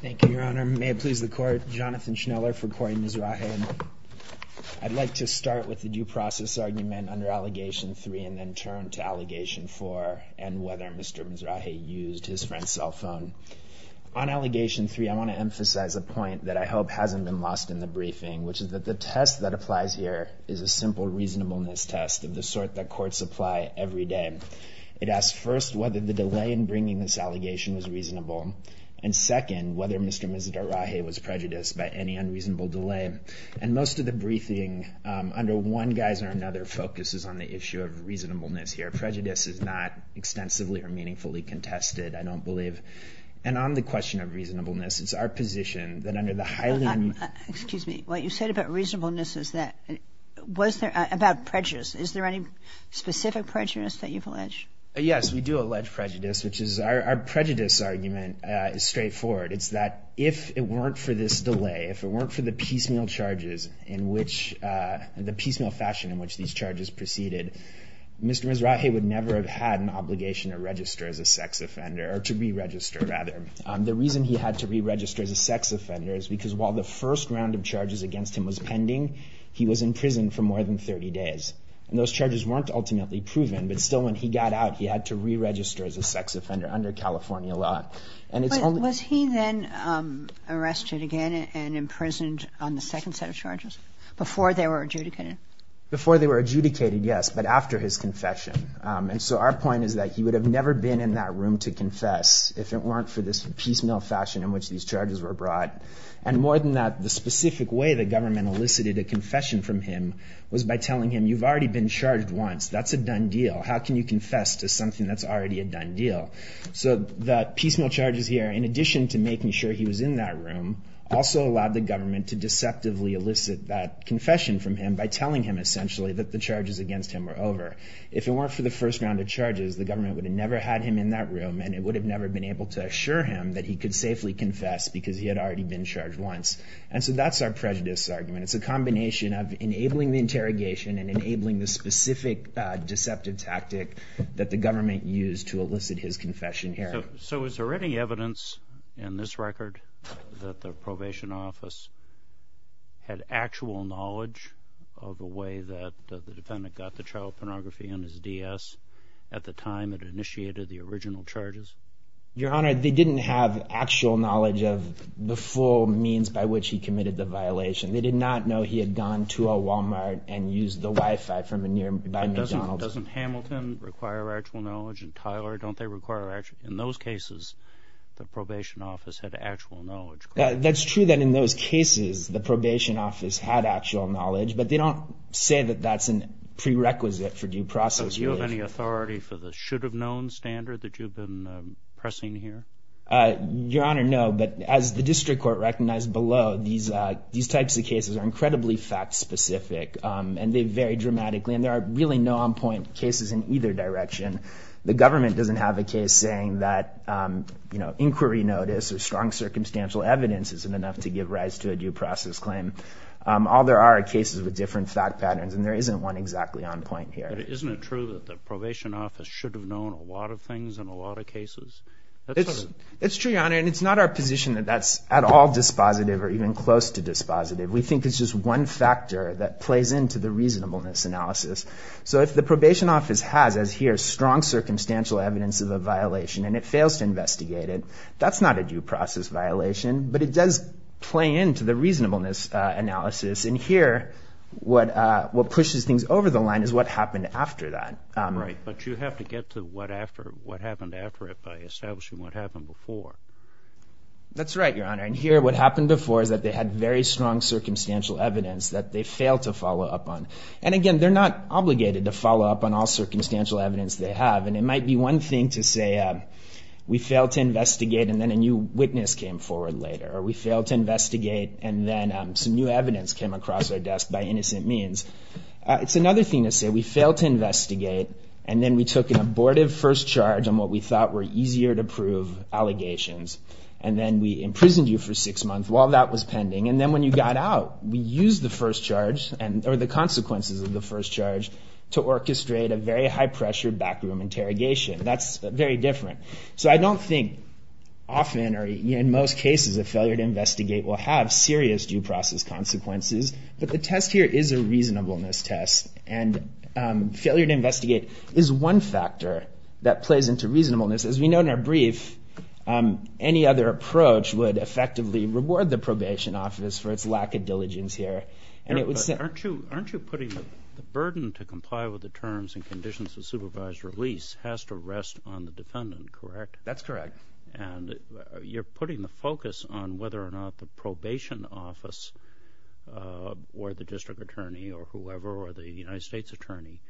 Thank you, Your Honor. May it please the Court, Jonathan Schneller for Cory Misraje. I'd like to start with the due process argument under Allegation 3 and then turn to Allegation 4 and whether Mr. Misraje used his friend's cell phone. On Allegation 3, I want to emphasize a point that I hope hasn't been lost in the briefing, which is that the test that applies here is a simple reasonableness test of the sort that courts apply every day. It asks first whether the delay in bringing this allegation was reasonable, and second, whether Mr. Misraje was prejudiced by any unreasonable delay. And most of the briefing under one guise or another focuses on the issue of reasonableness here. Prejudice is not extensively or meaningfully contested, I don't believe. And on the question of reasonableness, it's our position that under the Highland... Excuse me. What you said about reasonableness is that, was there, about prejudice, is there any specific prejudice that you've alleged? Yes, we do allege prejudice, which is, our prejudice argument is straightforward. It's that if it weren't for this delay, if it weren't for the piecemeal charges in which, the piecemeal fashion in which these charges proceeded, Mr. Misraje would never have had an obligation to register as a sex offender, or to re-register, rather. The reason he had to re-register as a sex offender is because while the first round of charges against him was pending, he was in prison for more than 30 days. And those charges weren't ultimately proven, but still when he got out, he had to re-register as a sex offender under California law. But was he then arrested again and imprisoned on the second set of charges, before they were adjudicated? Before they were adjudicated, yes, but after his confession. And so our point is that he would have never been in that room to confess if it weren't for this piecemeal fashion in which these charges were brought. And more than that, the specific way the government elicited a confession from him was by telling him, you've already been charged once, that's a done deal. How can you confess to something that's already a done deal? So the piecemeal charges here, in addition to making sure he was in that room, also allowed the government to deceptively elicit that confession from him by telling him essentially that the charges against him were over. If it weren't for the first round of charges, the government would have never had him in that room, and it would have never been able to assure him that he could safely confess because he had already been charged once. And so that's our prejudice argument. It's a combination of enabling the interrogation and enabling the specific deceptive tactic that the government used to elicit his confession here. So is there any evidence in this record that the probation office had actual knowledge of the way that the defendant got the child pornography on his DS at the time it initiated the original charges? Your Honor, they didn't have actual knowledge of the full means by which he committed the crime. But doesn't Hamilton require actual knowledge, and Tyler, don't they require actual knowledge? In those cases, the probation office had actual knowledge. That's true that in those cases, the probation office had actual knowledge, but they don't say that that's a prerequisite for due process. So do you have any authority for the should-have-known standard that you've been pressing here? Your Honor, no. But as the district court recognized below, these types of cases are incredibly fact-specific, and they vary dramatically, and there are really no on-point cases in either direction. The government doesn't have a case saying that, you know, inquiry notice or strong circumstantial evidence isn't enough to give rise to a due process claim. All there are are cases with different fact patterns, and there isn't one exactly on-point here. But isn't it true that the probation office should have known a lot of things in a lot of cases? It's true, Your Honor, and it's not our position that that's at all dispositive or even close to dispositive. We think it's just one factor that plays into the reasonableness analysis. So if the probation office has, as here, strong circumstantial evidence of a violation and it fails to investigate it, that's not a due process violation. But it does play into the reasonableness analysis. And here, what pushes things over the line is what happened after that. Right. But you have to get to what happened after it by establishing what happened before. That's right, Your Honor. And here, what happened before is that they had very strong circumstantial evidence that they failed to follow up on. And again, they're not obligated to follow up on all circumstantial evidence they have. And it might be one thing to say, we failed to investigate and then a new witness came forward later, or we failed to investigate and then some new evidence came across our desk by innocent means. It's another thing to say, we failed to investigate and then we took an abortive first charge on what we thought were easier to prove allegations. And then we imprisoned you for six months while that was pending. And then when you got out, we used the first charge, or the consequences of the first charge, to orchestrate a very high-pressure backroom interrogation. That's very different. So I don't think often, or in most cases, a failure to investigate will have serious due process consequences. But the test here is a reasonableness test. And failure to investigate is one factor that plays into reasonableness. As we know in our brief, any other approach would effectively reward the probation office for its lack of diligence here. And it would... Aren't you putting the burden to comply with the terms and conditions of supervised release has to rest on the defendant, correct? That's correct. And you're putting the focus on whether or not the probation office or the district attorney or whoever, or the United States attorney,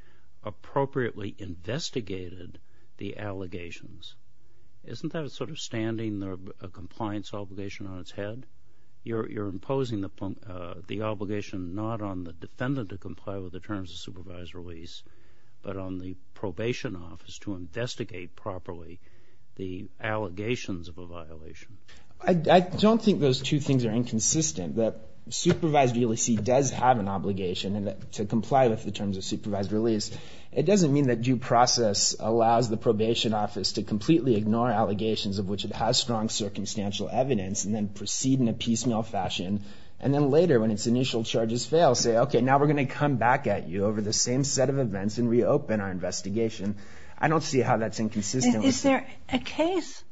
appropriately investigated the allegations. Isn't that sort of standing a compliance obligation on its head? You're imposing the obligation not on the defendant to comply with the terms of supervised release, but on the probation office to investigate properly the allegations of a violation. I don't think those two things are inconsistent. That supervised release does have an obligation to comply with the terms of supervised release. It doesn't mean that due process allows the probation office to completely ignore allegations of which it has strong circumstantial evidence and then proceed in a piecemeal fashion. And then later, when its initial charges fail, say, okay, now we're going to come back at you over the same set of events and reopen our investigation. I don't see how that's inconsistent. Is there a case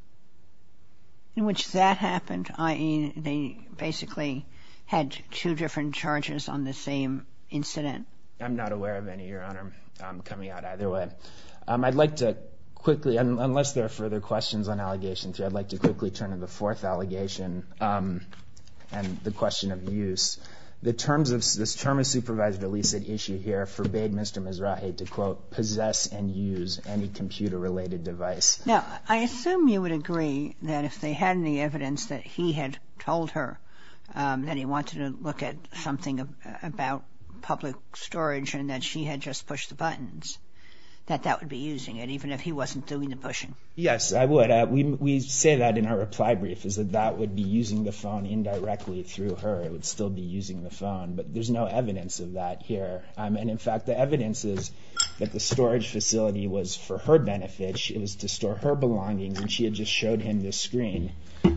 in which that happened, i.e., they basically had two different charges on the same incident? I'm not aware of any, Your Honor. I'm coming out either way. I'd like to quickly, unless there are further questions on Allegation 3, I'd like to quickly turn to the fourth allegation and the question of use. The terms of this term of supervised release at issue here forbade Mr. Mizrahi to, quote, possess and use any computer-related device. Now, I assume you would agree that if they had any evidence that he had told her that he wanted to look at something about public storage and that she had just pushed the buttons, that that would be using it, even if he wasn't doing the pushing. Yes, I would. We say that in our reply brief, is that that would be using the phone indirectly through her. It would still be using the phone. But there's no evidence of that here. And in fact, the evidence is that the storage facility was for her benefit. It was to store her belongings, and she had just showed him the screen.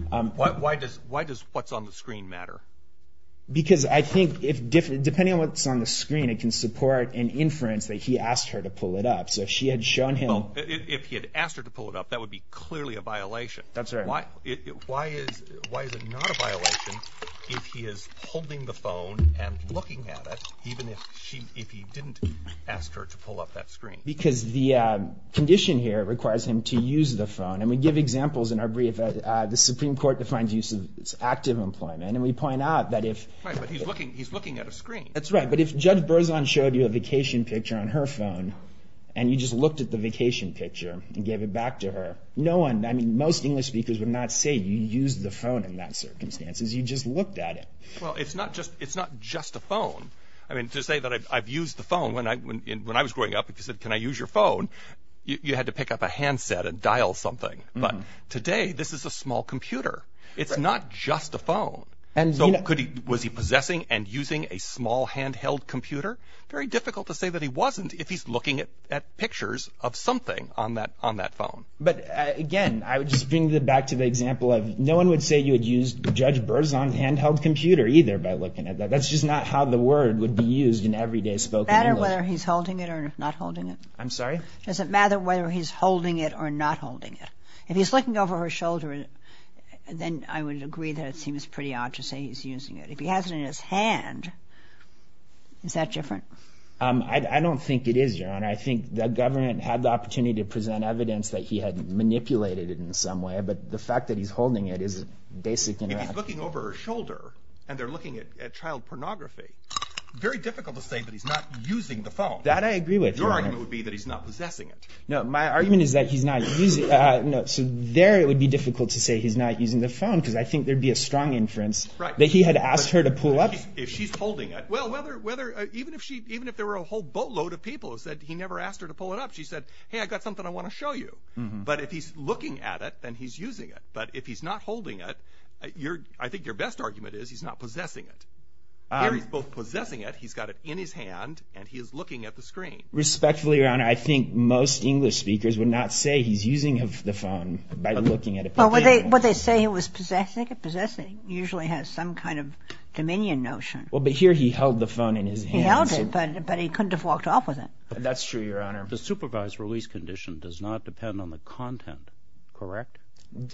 Why does what's on the screen matter? Because I think, depending on what's on the screen, it can support an inference that he asked her to pull it up. So if she had shown him... Well, if he had asked her to pull it up, that would be clearly a violation. That's right. But why is it not a violation if he is holding the phone and looking at it, even if he didn't ask her to pull up that screen? Because the condition here requires him to use the phone. And we give examples in our brief. The Supreme Court defines use of active employment, and we point out that if... Right, but he's looking at a screen. That's right. But if Judge Berzon showed you a vacation picture on her phone, and you just looked at the vacation picture and gave it back to her, no one, I mean, most English speakers would not say you used the phone in that circumstances. You just looked at it. Well, it's not just a phone. I mean, to say that I've used the phone, when I was growing up, if you said, can I use your phone, you had to pick up a handset and dial something. But today, this is a small computer. It's not just a phone. And so was he possessing and using a small handheld computer? Very difficult to say that he wasn't if he's looking at pictures of something on that phone. But again, I would just bring it back to the example of no one would say you had used Judge Berzon's handheld computer either by looking at that. That's just not how the word would be used in everyday spoken English. Does it matter whether he's holding it or not holding it? I'm sorry? Does it matter whether he's holding it or not holding it? If he's looking over her shoulder, then I would agree that it seems pretty odd to say he's using it. If he has it in his hand, is that different? I don't think it is, Your Honor. I think the government had the opportunity to present evidence that he had manipulated it in some way. But the fact that he's holding it is a basic interaction. If he's looking over her shoulder and they're looking at child pornography, very difficult to say that he's not using the phone. That I agree with, Your Honor. Your argument would be that he's not possessing it. No, my argument is that he's not using, no, so there it would be difficult to say he's not using the phone because I think there'd be a strong inference that he had asked her to pull up. If she's holding it, well, whether, even if she, even if there were a whole boatload of people who said he never asked her to pull it up, she said, hey, I got something I want to show you. But if he's looking at it, then he's using it. But if he's not holding it, your, I think your best argument is he's not possessing it. Here he's both possessing it, he's got it in his hand, and he is looking at the screen. Respectfully, Your Honor, I think most English speakers would not say he's using the phone by looking at it. Well, would they say he was possessing it? Possessing usually has some kind of dominion notion. Well, but here he held the phone in his hands. He held it, but he couldn't have walked off with it. That's true, Your Honor. The supervised release condition does not depend on the content, correct?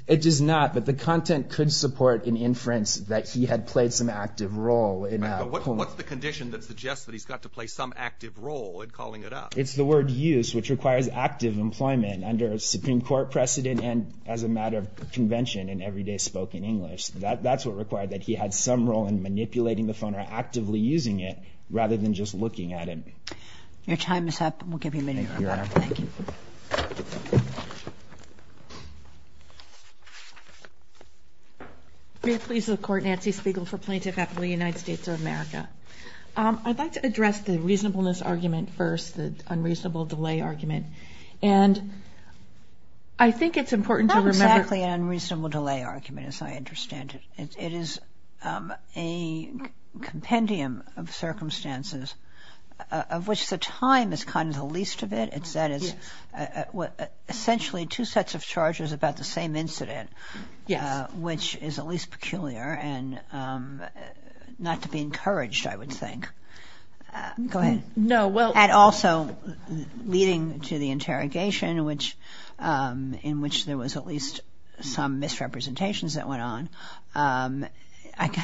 It does not, but the content could support an inference that he had played some active role in pulling it up. What's the condition that suggests that he's got to play some active role in calling it up? It's the word use, which requires active employment under a Supreme Court precedent and as a matter of convention in everyday spoken English. That's what required that he had some role in manipulating the phone or actively using it rather than just looking at it. Your time is up. We'll give you a minute, Your Honor. Thank you. May it please the Court, Nancy Spiegel for Plaintiff at the United States of America. I'd like to address the reasonableness argument first, the unreasonable delay argument. And I think it's important to remember Not exactly an unreasonable delay argument as I understand it. It is a compendium of circumstances of which the time is kind of the least of it. It's that it's essentially two sets of charges about the same incident, which is at least peculiar and not to be encouraged, I would think. Go ahead. And also leading to the interrogation in which there was at least some misrepresentations that went on,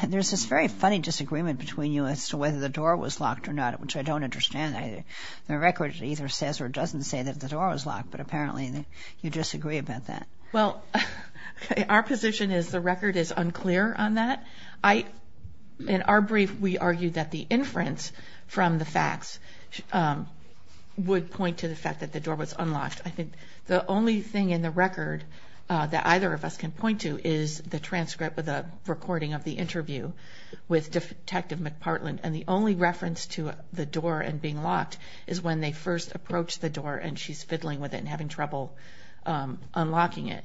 there's this very funny disagreement between you as to whether the door was locked or not, which I don't understand. The record either says or doesn't say that the door was locked, but apparently you disagree about that. Well, our position is the record is unclear on that. In our brief, we argued that the inference from the facts would point to the fact that the door was unlocked. I think the only thing in the record that either of us can point to is the transcript of the recording of the interview with Detective McPartland. And the only reference to the door and being locked is when they first approached the door and she's fiddling with it and having trouble unlocking it.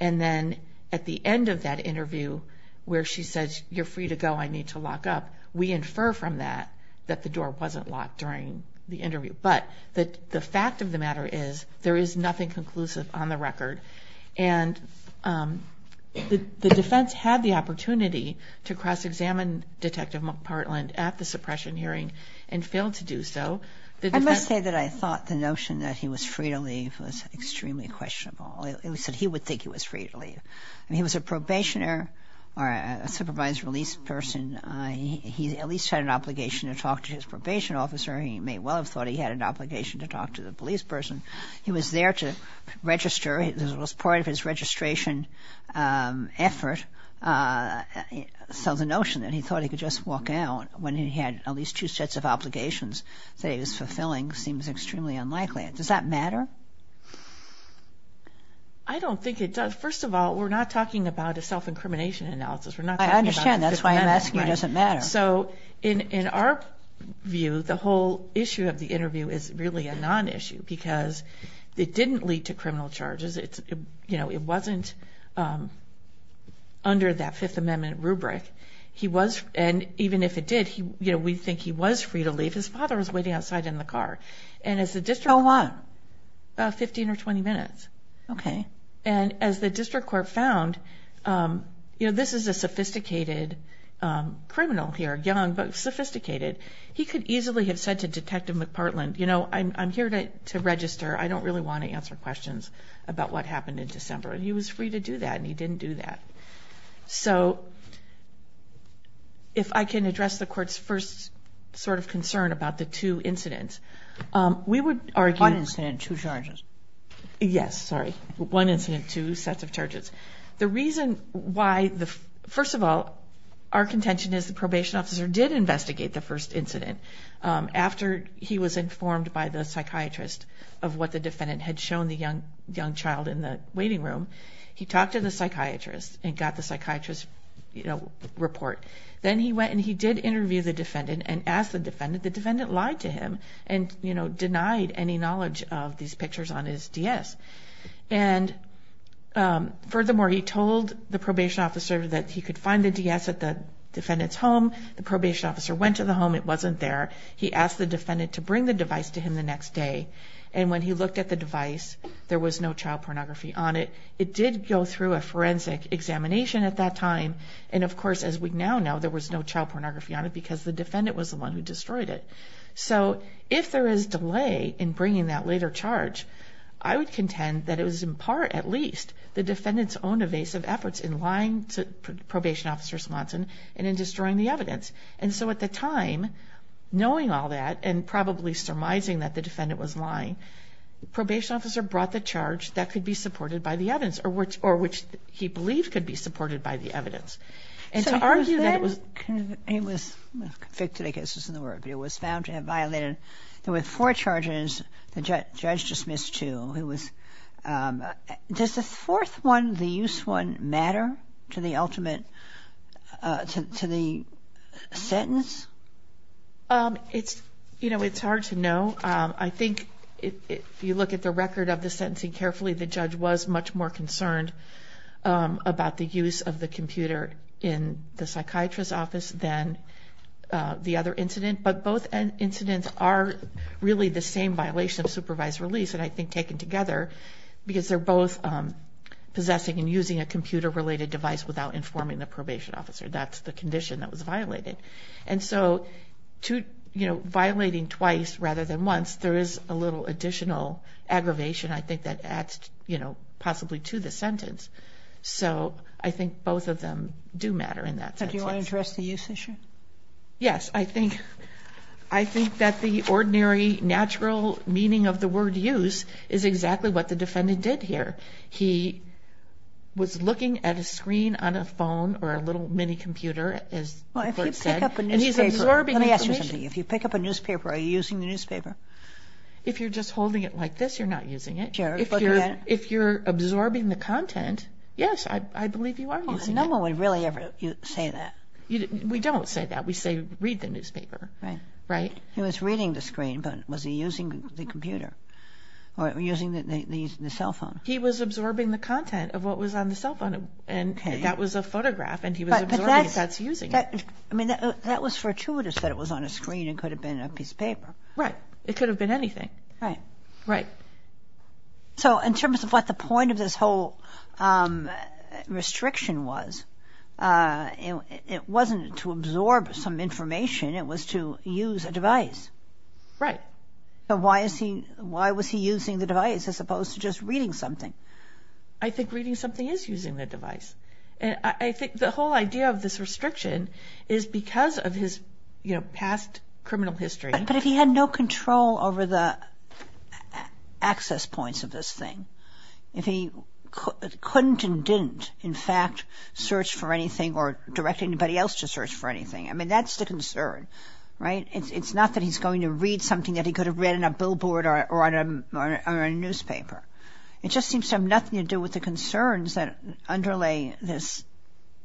And then at the end of that interview where she says, you're free to go, I need to lock up, we infer from that that the door wasn't locked during the interview. But the fact of the matter is there is nothing conclusive on the record. And the defense had the opportunity to cross-examine Detective McPartland at the suppression hearing and failed to do so. I must say that I thought the notion that he was free to leave was extremely questionable. He would think he was free to leave. I mean, he was a probationer or a supervised release person. He at least had an obligation to talk to his probation officer. He may well have thought he had an obligation to talk to the police person. He was there to register. It was part of his registration effort. So the notion that he thought he could just walk out when he had at least two sets of obligations that he was fulfilling seems extremely unlikely. Does that matter? I don't think it does. First of all, we're not talking about a self-incrimination analysis. We're not talking about... I understand. That's why I'm asking you, does it matter? So in our view, the whole issue of the interview is really a non-issue because it didn't lead to criminal charges. It wasn't under that Fifth Amendment rubric. And even if it did, we think he was free to leave. His father was waiting outside in the car. And as the district... How long? About 15 or 20 minutes. Okay. And as the district court found, this is a sophisticated criminal here, young, but sophisticated. He could easily have said to Detective McPartland, you know, I'm here to register. I don't really want to answer questions about what happened in December. He was free to do that, and he didn't do that. So if I can address the court's first sort of concern about the two incidents, we would argue... One incident, two charges. Yes. Sorry. One incident, two sets of charges. The reason why... First of all, our contention is the probation officer did investigate the first incident after he was informed by the psychiatrist of what the defendant had shown the young child in the waiting room. He talked to the psychiatrist and got the psychiatrist's report. Then he went and he did interview the defendant and asked the defendant. The defendant lied to him and, you know, denied any knowledge of these pictures on his DS. And furthermore, he told the probation officer that he could find the DS at the defendant's home. The probation officer went to the home. It wasn't there. He asked the defendant to bring the device to him the next day. And when he looked at the device, there was no child pornography on it. It did go through a forensic examination at that time. And of course, as we now know, there was no child pornography on it because the defendant was the one who destroyed it. So if there is delay in bringing that later charge, I would contend that it was in part, at least, the defendant's own evasive efforts in lying to probation officer Smodson and in destroying the evidence. And so at the time, knowing all that and probably surmising that the defendant was lying, probation officer brought the charge that could be supported by the evidence or which he believed could be supported by the evidence. And to argue that it was... So he was convicted, I guess isn't the word, but he was found to have violated, there were four charges the judge dismissed two. Does the fourth one, the use one, matter to the ultimate, to the sentence? It's, you know, it's hard to know. I think if you look at the record of the sentencing carefully, the judge was much more concerned about the use of the computer in the psychiatrist's office than the other incident. But both incidents are really the same violation of supervised release, and I think taken together because they're both possessing and using a computer-related device without informing the probation officer. That's the condition that was violated. And so to, you know, violating twice rather than once, there is a little additional aggravation, I think, that adds, you know, possibly to the sentence. So I think both of them do matter in that sense. Do you want to address the use issue? Yes. I think that the ordinary, natural meaning of the word use is exactly what the defendant did here. He was looking at a screen on a phone or a little mini-computer, as the court said. Well, if you pick up a newspaper... And he's absorbing information. Let me ask you something. If you pick up a newspaper, are you using the newspaper? If you're just holding it like this, you're not using it. If you're absorbing the content, yes, I believe you are using it. No one would really ever say that. We don't say that. We say, read the newspaper. Right. Right? He was reading the screen, but was he using the computer or using the cell phone? He was absorbing the content of what was on the cell phone, and that was a photograph, and he was absorbing it. That's using it. But that's... I mean, that was fortuitous that it was on a screen and could have been a piece of paper. Right. It could have been anything. Right. Right. So, in terms of what the point of this whole restriction was, it wasn't to absorb some information. It was to use a device. Right. So, why is he... Why was he using the device as opposed to just reading something? I think reading something is using the device. I think the whole idea of this restriction is because of his, you know, past criminal history. But if he had no control over the access points of this thing, if he couldn't and didn't, in fact, search for anything or direct anybody else to search for anything, I mean, that's the concern. Right? It's not that he's going to read something that he could have read on a billboard or on a newspaper. It just seems to have nothing to do with the concerns that underlay this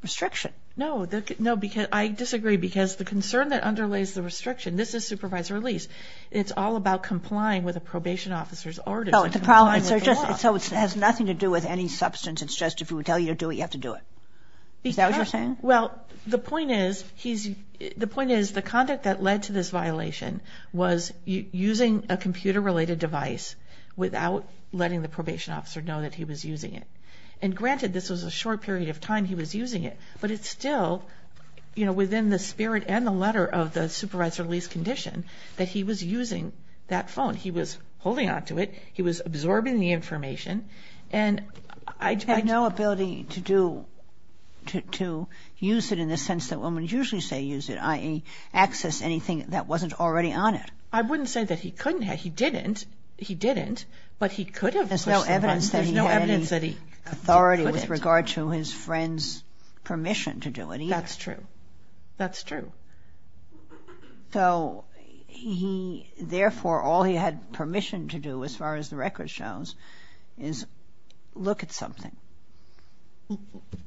restriction. No. No, because... I disagree, because the concern that underlays the restriction... And this is supervisory release. It's all about complying with a probation officer's orders. Oh, the problems are just... So, it has nothing to do with any substance. It's just if he would tell you to do it, you have to do it. Is that what you're saying? Because... Well, the point is he's... The point is the conduct that led to this violation was using a computer-related device without letting the probation officer know that he was using it. And granted, this was a short period of time he was using it, but it's still, you know, within the spirit and the letter of the supervisory release condition that he was using that phone. He was holding onto it. He was absorbing the information. And I... Had no ability to do... to use it in the sense that women usually say use it, i.e., access anything that wasn't already on it. I wouldn't say that he couldn't have. He didn't. He didn't, but he could have pushed the button. There's no evidence that he had any authority with regard to his friend's permission to do it either. That's true. That's true. So, he... Therefore, all he had permission to do, as far as the record shows, is look at something.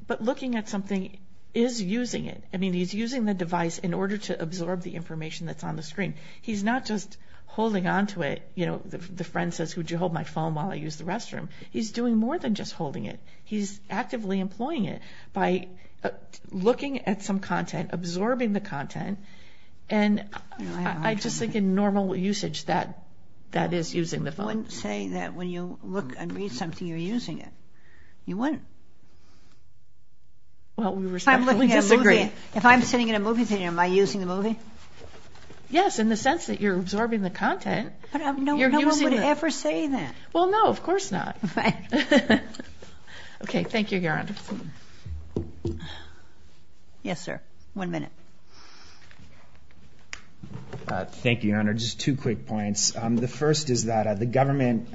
But looking at something is using it. I mean, he's using the device in order to absorb the information that's on the screen. He's not just holding onto it. You know, the friend says, would you hold my phone while I use the restroom? He's doing more than just holding it. He's actively employing it by looking at some content, absorbing the content, and I just think in normal usage, that is using the phone. I wouldn't say that when you look and read something, you're using it. You wouldn't. Well, we respectfully disagree. If I'm looking at a movie, if I'm sitting in a movie theater, am I using the movie? Yes, in the sense that you're absorbing the content. But no one would ever say that. Well, no. Of course not. Right. Okay, thank you, Your Honor. Yes, sir. One minute. Thank you, Your Honor. Just two quick points. The first is that the government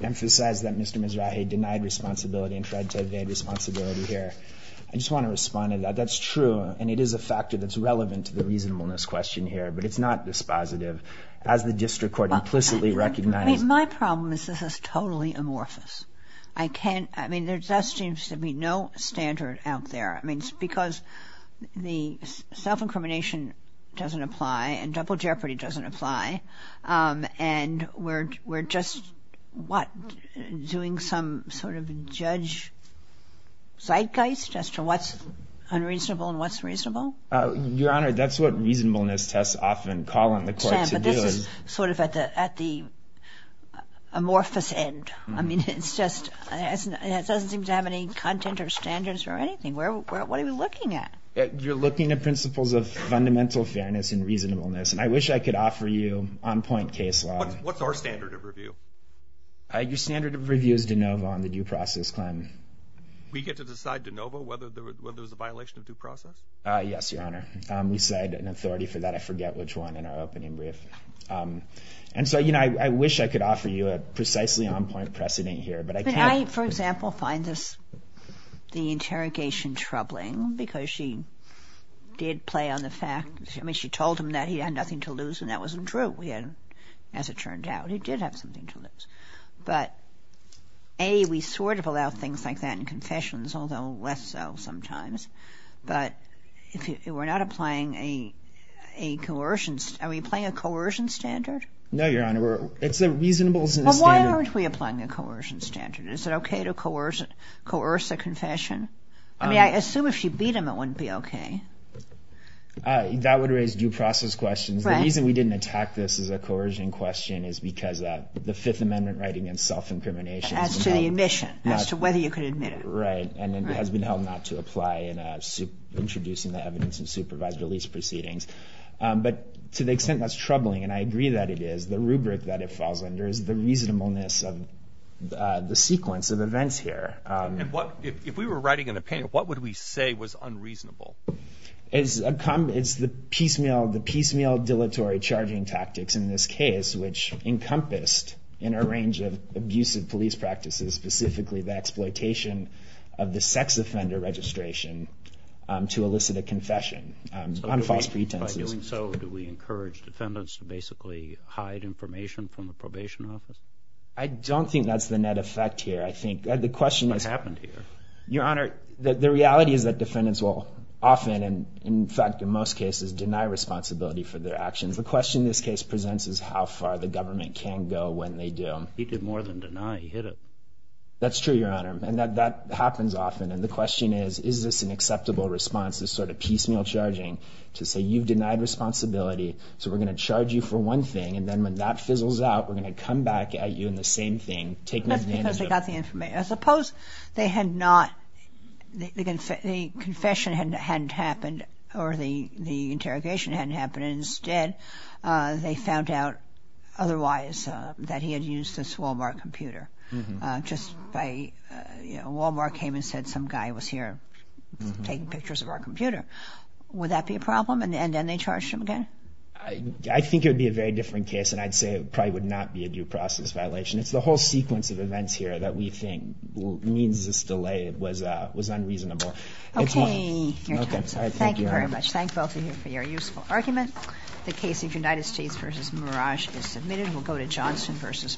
emphasized that Mr. Mizrahi denied responsibility and tried to evade responsibility here. I just want to respond to that. That's true, and it is a factor that's relevant to the reasonableness question here, but it's not dispositive. As the district court implicitly recognizes. Well, my problem is this is totally amorphous. I mean, there just seems to be no standard out there. I mean, it's because the self-incrimination doesn't apply and double jeopardy doesn't apply, and we're just, what, doing some sort of judge zeitgeist as to what's unreasonable and what's reasonable? Your Honor, that's what reasonableness tests often call on the court to do. It's just sort of at the amorphous end. I mean, it doesn't seem to have any content or standards or anything. What are we looking at? You're looking at principles of fundamental fairness and reasonableness, and I wish I could offer you on-point case law. What's our standard of review? Your standard of review is de novo on the due process claim. We get to decide de novo whether there's a violation of due process? Yes, Your Honor. We cite an authority for that. I forget which one in our opening brief. And so I wish I could offer you a precisely on-point precedent here, but I can't. I, for example, find the interrogation troubling because she did play on the fact... I mean, she told him that he had nothing to lose, and that wasn't true. As it turned out, he did have something to lose. But A, we sort of allow things like that in confessions, although less so sometimes. But if we're not applying a coercion... Are we applying a coercion standard? No, Your Honor. It's a reasonable standard. Well, why aren't we applying a coercion standard? Is it okay to coerce a confession? I mean, I assume if she beat him, it wouldn't be okay. That would raise due process questions. The reason we didn't attack this as a coercion question is because the Fifth Amendment right against self-incrimination... As to the admission, as to whether you could admit it. Right, and it has been held not to apply in introducing the evidence in supervised release proceedings. But to the extent that's troubling, and I agree that it is, the rubric that it falls under is the reasonableness of the sequence of events here. If we were writing an opinion, what would we say was unreasonable? It's the piecemeal, dilatory charging tactics in this case, which encompassed in a range of abusive police practices, specifically the exploitation of the sex offender registration to elicit a confession on false pretenses. By doing so, do we encourage defendants to basically hide information from the probation office? I don't think that's the net effect here. What happened here? Your Honor, the reality is that defendants will often, in fact in most cases, deny responsibility for their actions. The question this case presents is how far the government can go when they do. He did more than deny, he hid it. That's true, Your Honor, and that happens often. And the question is, is this an acceptable response, this sort of piecemeal charging, to say, you've denied responsibility, so we're going to charge you for one thing, and then when that fizzles out, we're going to come back at you in the same thing. That's because they got the information. Suppose they had not, the confession hadn't happened or the interrogation hadn't happened, and instead they found out otherwise that he had used this Walmart computer. Just by, you know, Walmart came and said some guy was here taking pictures of our computer. Would that be a problem, and then they charged him again? I think it would be a very different case, and I'd say it probably would not be a due process violation. It's the whole sequence of events here that we think means this delay was unreasonable. Okay, Your Honor. Thank you very much. Thank both of you for your useful argument. The case of United States v. Mirage is submitted. We'll go to Johnson v. Montgomery.